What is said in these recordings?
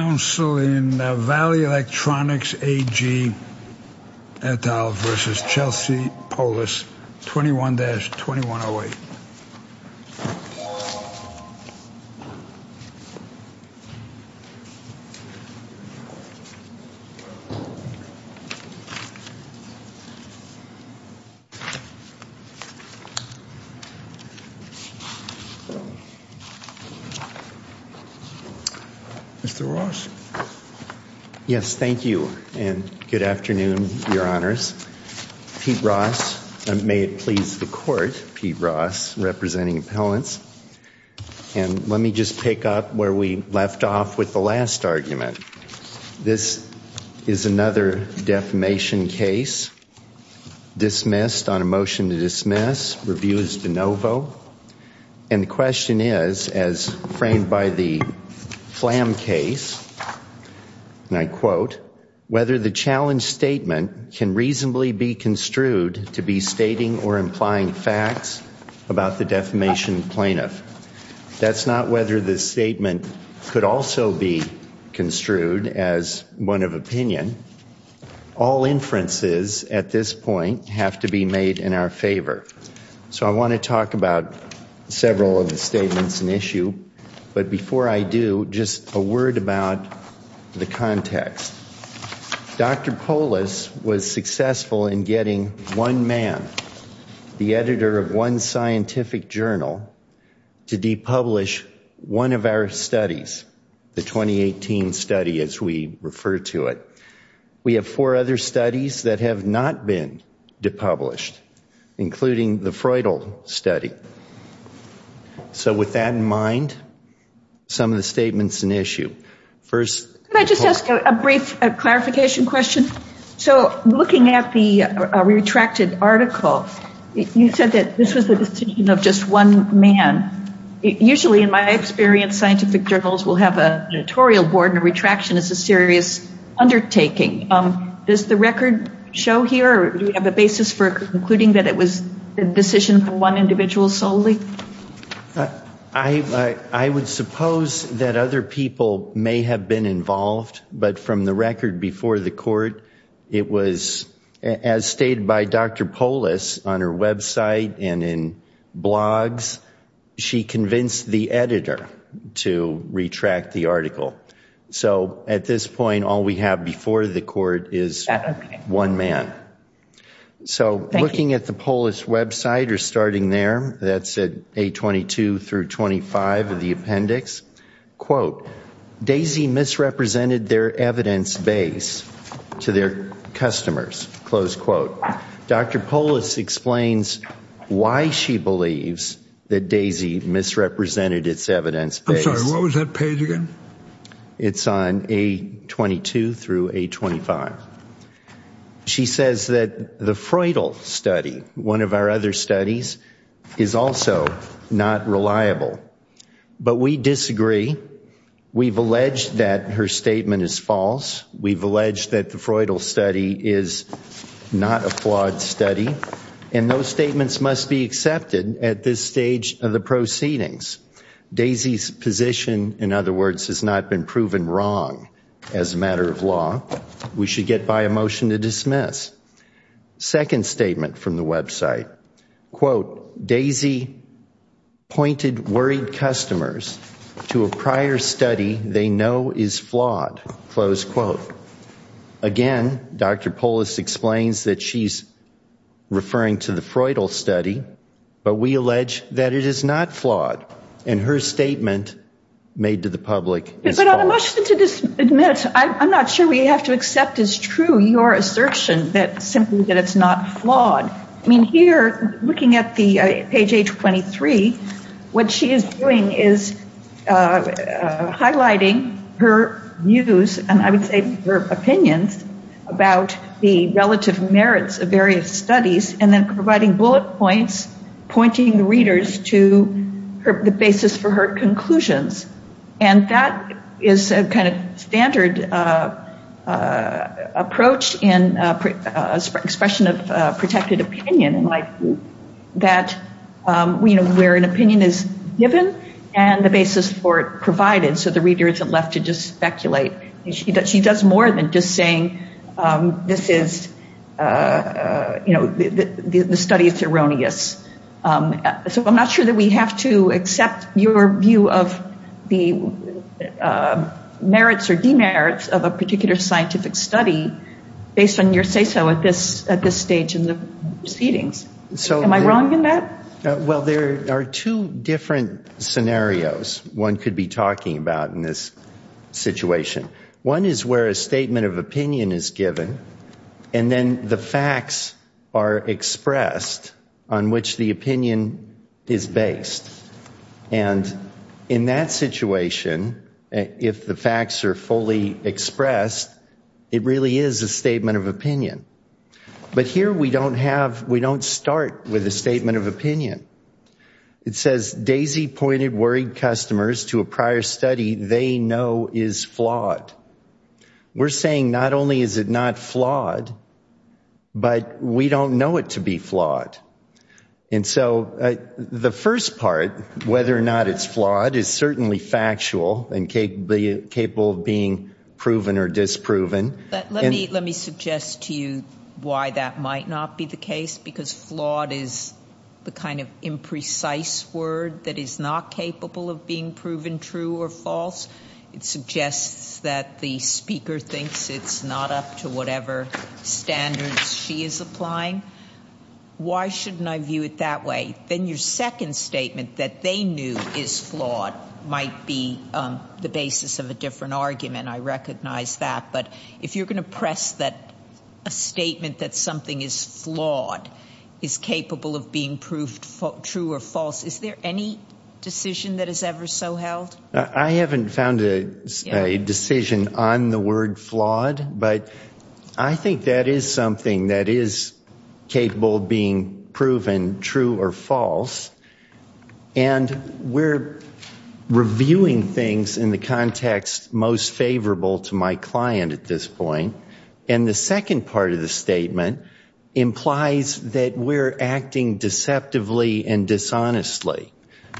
Council in Valley Electronics AG et al. versus Chelsea Polis 21-2108 Mr. Ross. Yes, thank you, and good afternoon, Your Honors. Pete Ross, and may it please the Court, Pete Ross, representing appellants, and let me just pick up where we left off with the last argument. This is another defamation case, dismissed on a motion to dismiss, review is de novo, and the question is, as framed by the Flam case, and I quote, whether the facts about the defamation plaintiff. That's not whether the statement could also be construed as one of opinion. All inferences at this point have to be made in our favor. So I want to talk about several of the statements and issue, but before I do, just a word about the context. Dr. Polis was successful in getting one man, the editor of one scientific journal, to depublish one of our studies, the 2018 study as we refer to it. We have four other studies that have not been depublished, including the Freudle study. So with that in mind, some of the statements and issue. Could I just ask a brief clarification question? So looking at the retracted article, you said that this was the decision of just one man. Usually in my experience, scientific journals will have an editorial board and a retraction is a serious undertaking. Does the record show here, or do we have a basis for concluding that it was a decision from one individual solely? I would suppose that other people may have been involved, but from the record before the court, it was as stated by Dr. Polis on her website and in blogs, she convinced the editor to retract the article. So at this point, all we have before the court is one man. So looking at the Polis website or starting there, that said A22 through 25 of the appendix, quote, Daisy misrepresented their evidence base to their customers, close quote. Dr. Polis explains why she believes that Daisy misrepresented its evidence. I'm sorry, what was that page again? It's on A22 through A25. She says that the Freudal study, one of our other studies, is also not reliable. But we disagree. We've alleged that her statement is false. We've alleged that the Freudal study is not a flawed study. And those statements must be accepted at this stage of the proceedings. Daisy's position, in other words, has not been proven wrong as a matter of law. We should get by a motion to dismiss. Second statement from the website, quote, Daisy pointed worried customers to a prior study they know is flawed, close quote. Again, Dr. Polis explains that she's the Freudal study, but we allege that it is not flawed. And her statement made to the public is false. But on a motion to dismiss, I'm not sure we have to accept as true your assertion that simply that it's not flawed. I mean, here, looking at the page A23, what she is doing is highlighting her views, and I would say her opinions about the relative merits of various bullet points, pointing readers to the basis for her conclusions. And that is a kind of standard approach in expression of protected opinion, where an opinion is given and the basis for it provided, so the reader isn't left to just speculate. She does more than just saying, this is, you know, the study is erroneous. So I'm not sure that we have to accept your view of the merits or demerits of a particular scientific study based on your say-so at this stage in the proceedings. Am I wrong in that? Well, there are two different scenarios one could be talking about in this situation. One is where a statement of opinion is given, and then the facts are expressed on which the opinion is based. And in that situation, if the facts are fully expressed, it really is a statement of opinion. But here we don't have, we don't start with a statement of opinion. It says, Daisy pointed worried customers to a prior study they know is flawed. We're saying not only is it not flawed, but we don't know it to be flawed. And so the first part, whether or not it's flawed, is certainly factual and capable of being proven or disproven. Let me suggest to you why that might not be the case, because flawed is the kind of imprecise word that is not capable of being proven true or false. It suggests that the speaker thinks it's not up to whatever standards she is applying. Why shouldn't I view it that way? Then your second statement that they knew is flawed might be the basis of a different argument. I recognize that. But if you're going to press that a statement that something is flawed is capable of being proved true or false, is there any decision that is ever so held? I haven't found a decision on the word flawed, but I think that is something that is capable of being proven true or false. And we're viewing things in the context most favorable to my client at this point. And the second part of the statement implies that we're acting deceptively and dishonestly.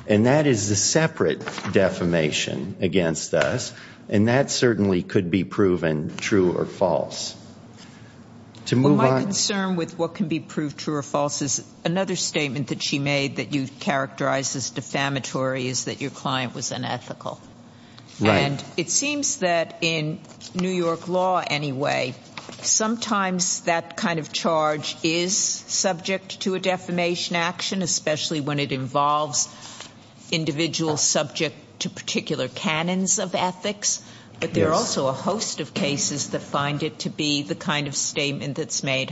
And that is the separate defamation against us. And that certainly could be proven true or false. To move on. My concern with what can be proved true or false is another statement that she made that you Right. And it seems that in New York law anyway, sometimes that kind of charge is subject to a defamation action, especially when it involves individuals subject to particular canons of ethics. But there are also a host of cases that find it to be the kind of statement that's made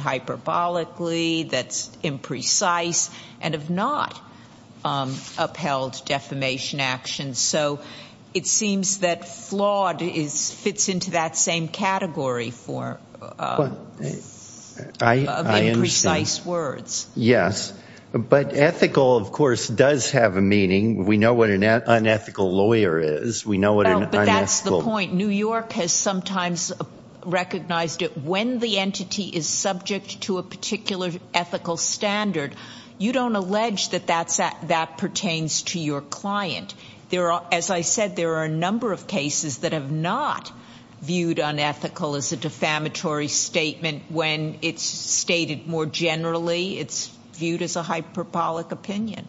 It seems that flawed fits into that same category for imprecise words. Yes. But ethical, of course, does have a meaning. We know what an unethical lawyer is. But that's the point. New York has sometimes recognized it. When the entity is subject to particular ethical standard, you don't allege that that pertains to your client. As I said, there are a number of cases that have not viewed unethical as a defamatory statement. When it's stated more generally, it's viewed as a hyperbolic opinion.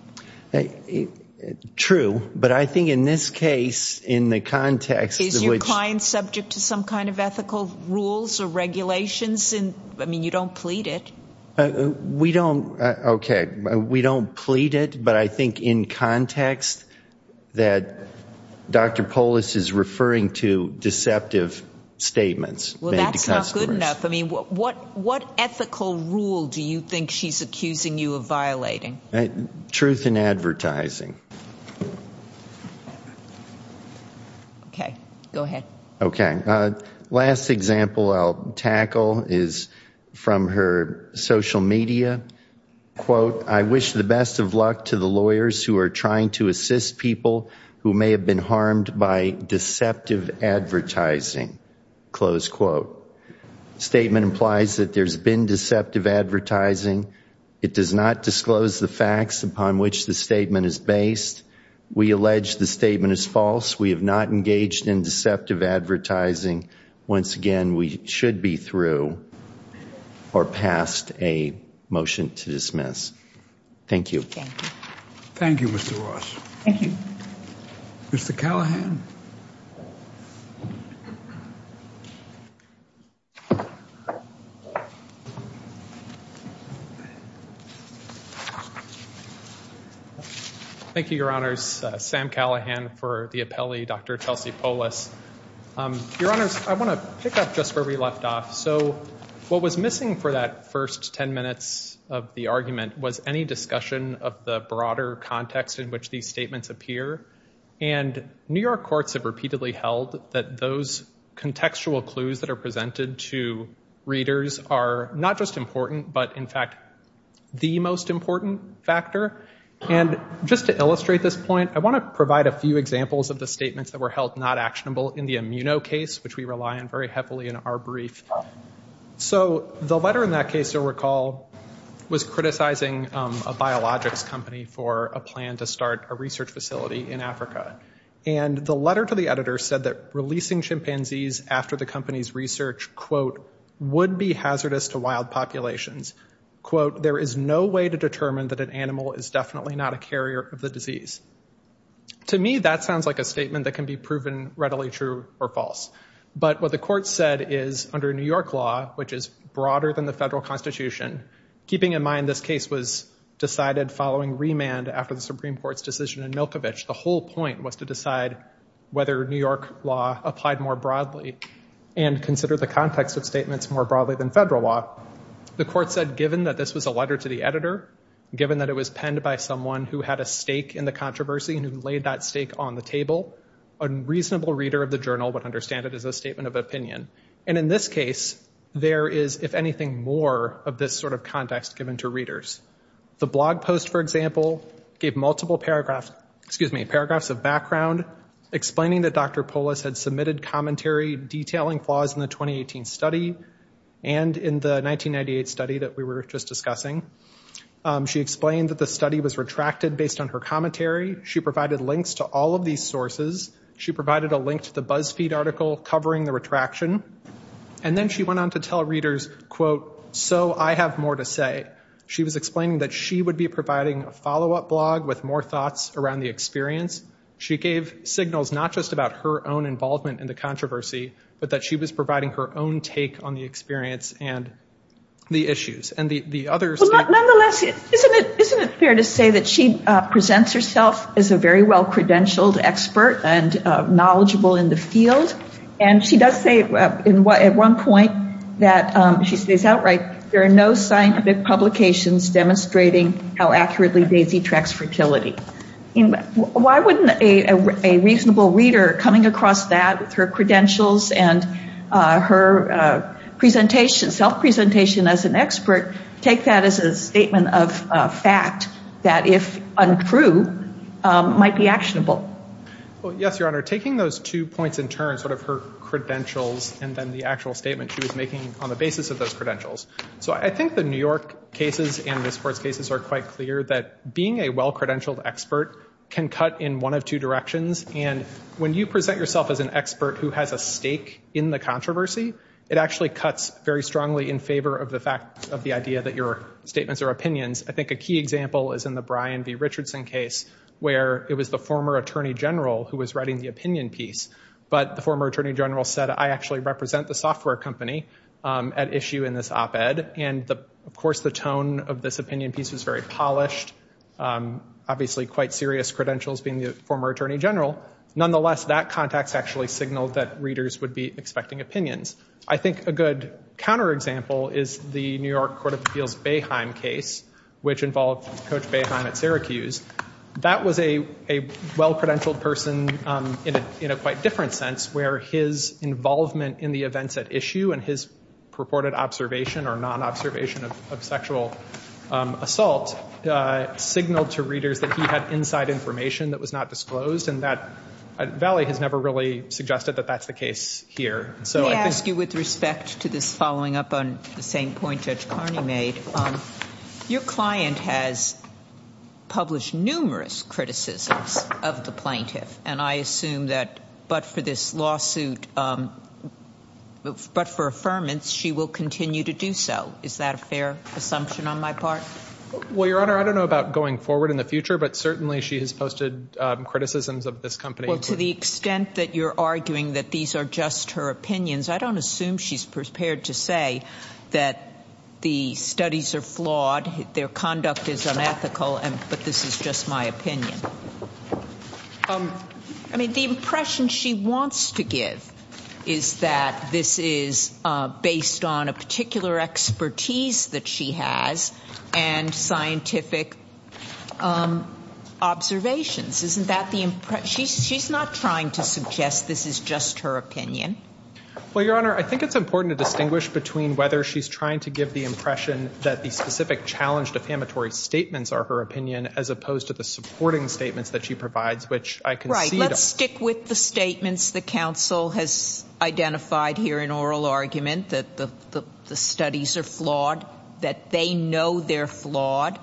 True. But I think in this case, in the context Is your client subject to some kind of ethical rules or regulations? I mean, you don't plead it. We don't. Okay. We don't plead it. But I think in context that Dr. Polis is referring to deceptive statements. Well, that's not good enough. I mean, what ethical rule do you think she's accusing you of violating? Truth in advertising. Okay, go ahead. Okay. Last example I'll tackle is from her social media. Quote, I wish the best of luck to the lawyers who are trying to assist people who may have been harmed by deceptive advertising. Close quote. Statement implies that there's been deceptive advertising. It does not disclose the facts upon which the statement is based. We allege the statement is false. We have not engaged in deceptive advertising. Once again, we should be through or passed a motion to dismiss. Thank you. Thank you, Mr. Ross. Thank you. Mr. Callahan. Thank you, Your Honors. Sam Callahan for the appellee, Dr. Chelsea Polis. Your Honors, I want to pick up just where we left off. So what was missing for that first 10 minutes of the argument was any discussion of the broader context in which these statements appear. And New York courts have repeatedly held that those contextual clues that are presented to readers are not just important, but in fact, the most important factor. And just to illustrate this point, I want to provide a few examples of the statements that were held not actionable in the Immuno case, which we rely on a biologics company for a plan to start a research facility in Africa. And the letter to the editor said that releasing chimpanzees after the company's research, quote, would be hazardous to wild populations. Quote, there is no way to determine that an animal is definitely not a carrier of the disease. To me, that sounds like a statement that can be proven readily true or false. But what the court said is under New York law, which is broader than the federal constitution, keeping in mind this case was decided following remand after the Supreme Court's decision in Milkovich, the whole point was to decide whether New York law applied more broadly and consider the context of statements more broadly than federal law. The court said, given that this was a letter to the editor, given that it was penned by someone who had a stake in the controversy and who laid that stake on the table, a reasonable reader of the journal would understand it as a statement of opinion. And in this case, there is, if anything, more of this sort of context given to readers. The blog post, for example, gave multiple paragraphs, excuse me, paragraphs of background explaining that Dr. Polis had submitted commentary detailing flaws in the 2018 study and in the 1998 study that we were just discussing. She explained that the study was retracted based on her commentary. She provided links to all of these sources. She provided a link to the BuzzFeed article covering the retraction. And then she went on to tell readers, quote, so I have more to say. She was explaining that she would be providing a follow-up blog with more thoughts around the experience. She gave signals not just about her own involvement in the controversy, but that she was providing her own take on the experience and the issues. And the others... Well, nonetheless, isn't it fair to say that she presents herself as a very well-credentialed expert and knowledgeable in the field? And she does say at one point that, she says outright, there are no scientific publications demonstrating how accurately Daisy tracks fertility. Why wouldn't a reasonable reader coming across that with her credentials and her self-presentation as an expert take that as a statement of fact that, if untrue, might be actionable? Well, yes, Your Honor. Taking those two points in turn, sort of her credentials and then the actual statement she was making on the basis of those credentials. So I think the New York cases and the sports cases are quite clear that being a well-credentialed expert can cut in one of two directions. And when you present yourself as an expert who has a stake in the controversy, it actually cuts very strongly in favor of the fact of the idea that your where it was the former attorney general who was writing the opinion piece. But the former attorney general said, I actually represent the software company at issue in this op-ed. And of course, the tone of this opinion piece was very polished. Obviously, quite serious credentials being the former attorney general. Nonetheless, that context actually signaled that readers would be expecting opinions. I think a good counterexample is the New York Court of Appeals Boeheim case, which involved Coach Boeheim at Syracuse. That was a well-credentialed person in a quite different sense, where his involvement in the events at issue and his purported observation or non-observation of sexual assault signaled to readers that he had inside information that was not disclosed. And Valley has never really suggested that that's the case here. So I ask you with respect to this following up on the same point Judge Carney made, your client has published numerous criticisms of the plaintiff. And I assume that but for this lawsuit, but for affirmance, she will continue to do so. Is that a fair assumption on my part? Well, Your Honor, I don't know about going forward in the future, but certainly she has posted criticisms of this company. Well, to the extent that you're arguing that these are just her opinions, I don't assume she's prepared to say that the studies are flawed, their conduct is unethical, but this is just my opinion. I mean, the impression she wants to give is that this is she's not trying to suggest this is just her opinion. Well, Your Honor, I think it's important to distinguish between whether she's trying to give the impression that the specific challenge defamatory statements are her opinion, as opposed to the supporting statements that she provides, which I can see. Right. Let's stick with the statements the counsel has identified here in oral argument, that the studies are flawed, that they know they're flawed.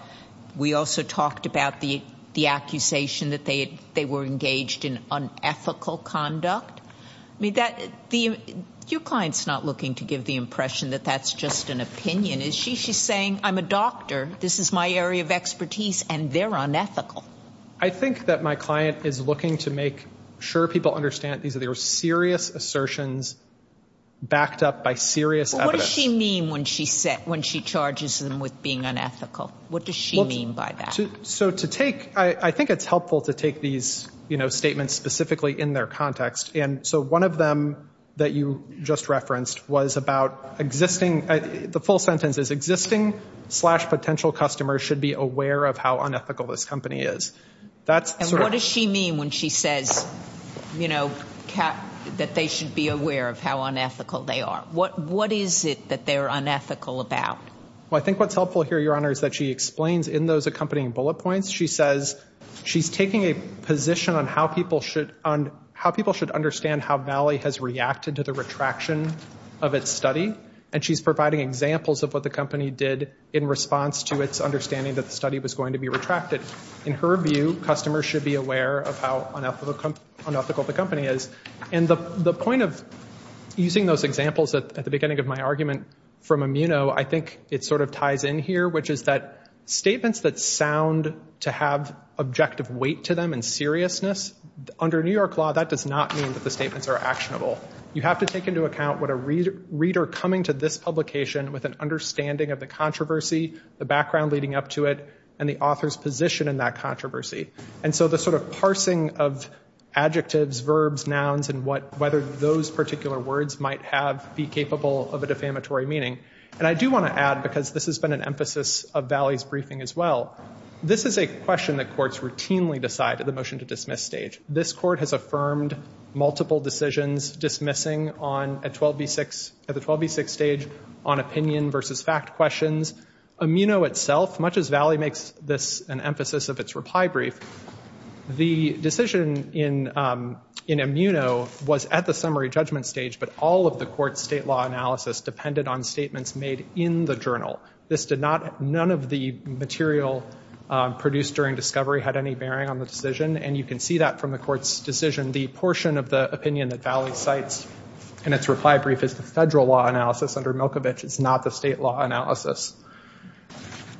We also talked about the accusation that they were engaged in unethical conduct. I mean, your client's not looking to give the impression that that's just an opinion. She's saying, I'm a doctor, this is my area of expertise, and they're unethical. I think that my client is looking to make sure people understand these are serious assertions backed up by serious evidence. What does she mean when she charges them with being unethical? What does she mean by that? So to take, I think it's helpful to take these statements specifically in their context. And so one of them that you just referenced was about existing, the full sentence is, existing slash potential customers should be aware of how unethical this company is. And what does she mean when she says that they should be aware of how unethical they are? What is it that they're unethical about? Well, I think what's helpful here, Your Honor, is that she explains in those accompanying bullet points, she says she's taking a position on how people should understand how Valley has reacted to the retraction of its study. And she's providing examples of what the company did in response to its understanding that the study was going to be retracted. In her view, customers should be aware of how unethical the company is. And the point of using those examples at the beginning of my argument from Immuno, I think it sort of ties in here, which is that statements that sound to have objective weight to them and seriousness, under New York law, that does not mean that the statements are actionable. You have to take into account what a reader coming to this publication with an understanding of the controversy, the background leading up to it, and the author's position in that controversy. And so the sort of parsing of adjectives, verbs, nouns, and whether those add because this has been an emphasis of Valley's briefing as well. This is a question that courts routinely decide at the motion to dismiss stage. This court has affirmed multiple decisions dismissing at the 12B6 stage on opinion versus fact questions. Immuno itself, much as Valley makes this an emphasis of its reply brief, the decision in Immuno was at the summary judgment stage, but all of the court's state law analysis depended on statements made in the journal. This did not, none of the material produced during discovery had any bearing on the decision, and you can see that from the court's decision. The portion of the opinion that Valley cites in its reply brief is the federal law analysis under Milkovich. It's not the state law analysis.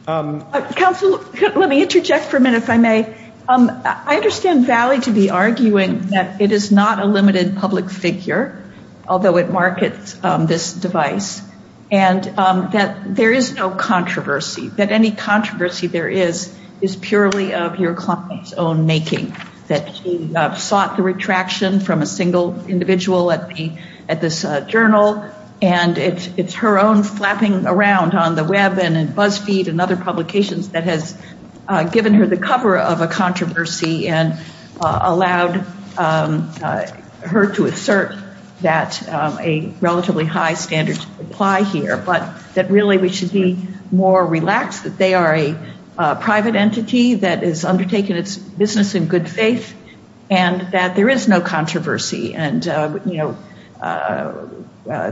Counsel, let me interject for a minute if I may. I understand Valley to be arguing that it is not a limited public figure, although it markets this device, and that there is no controversy, that any controversy there is is purely of your client's own making, that she sought the retraction from a single individual at this journal, and it's her own flapping around on the web and in BuzzFeed and other publications that has given her the cover of a controversy and allowed her to assert that a relatively high standard apply here, but that really we should be more relaxed that they are a private entity that is undertaking its business in good faith, and that there is no controversy, and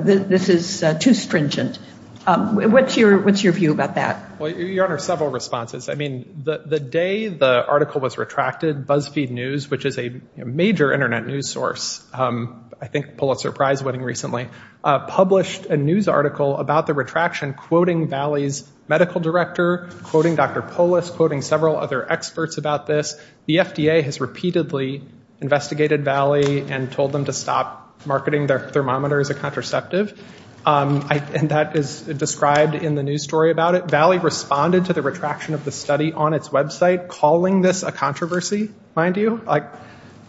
this is too stringent. What's your view about that? Your Honor, several responses. The day the article was retracted, BuzzFeed News, which is a major internet news source, I think Pulitzer Prize winning recently, published a news article about the retraction quoting Valley's medical director, quoting Dr. Polis, quoting several other experts about this. The FDA has repeatedly investigated Valley and told them to stop marketing their thermometer as a contraceptive, and that is described in the news story about it. Valley responded to the retraction of the study on its website, calling this a controversy, mind you. I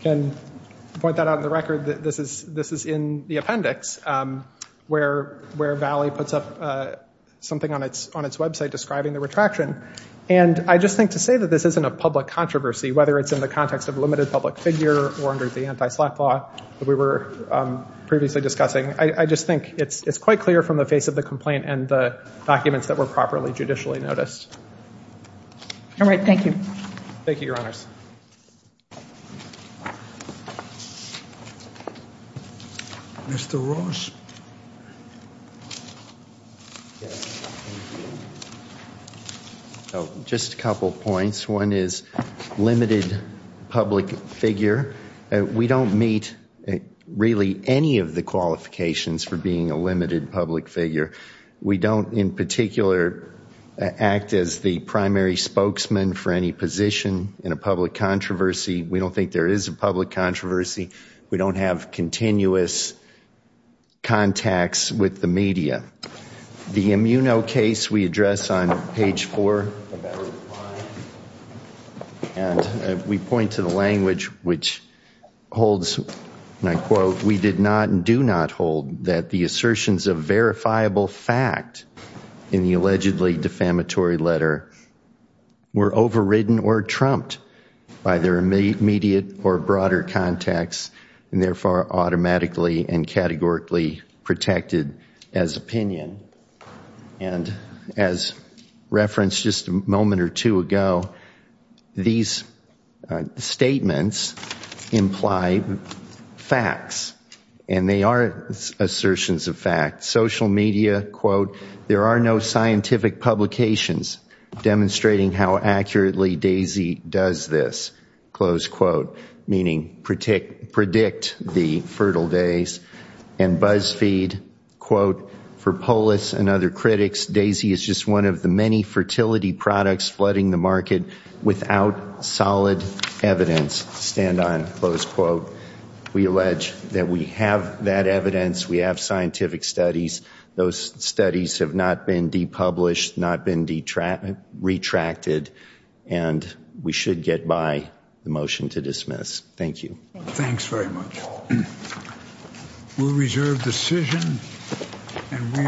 can point that out in the record. This is in the appendix, where Valley puts up something on its website describing the retraction, and I just think to say that this isn't a public controversy, whether it's in the context of limited public figure or under the anti-slap law that we were previously discussing, I just think it's quite clear from the face of the complaint and the documents that were properly judicially noticed. All right. Thank you. Thank you, Your Honors. Mr. Ross. Just a couple of points. One is limited public figure. We don't meet really any of the limitations of being a limited public figure. We don't in particular act as the primary spokesman for any position in a public controversy. We don't think there is a public controversy. We don't have continuous contacts with the media. The immuno case we address on page four, and we point to the language which holds, and I quote, we did not and do not hold that the assertions of verifiable fact in the allegedly defamatory letter were overridden or trumped by their immediate or broader context, and therefore automatically and categorically protected as opinion. And as referenced just a moment or two ago, these statements imply facts, and they are assertions of fact. Social media, quote, there are no scientific publications demonstrating how accurately DAISY does this, close quote, meaning predict the fertile days. And BuzzFeed, quote, for polis and other critics, DAISY is just one of the many fertility products flooding the market without solid evidence, stand on, close quote. We allege that we have that evidence. We have scientific studies. Those studies have not been depublished, not been retracted, and we should get by the motion to dismiss. Thank you. Thanks very much. We'll reserve decision and we are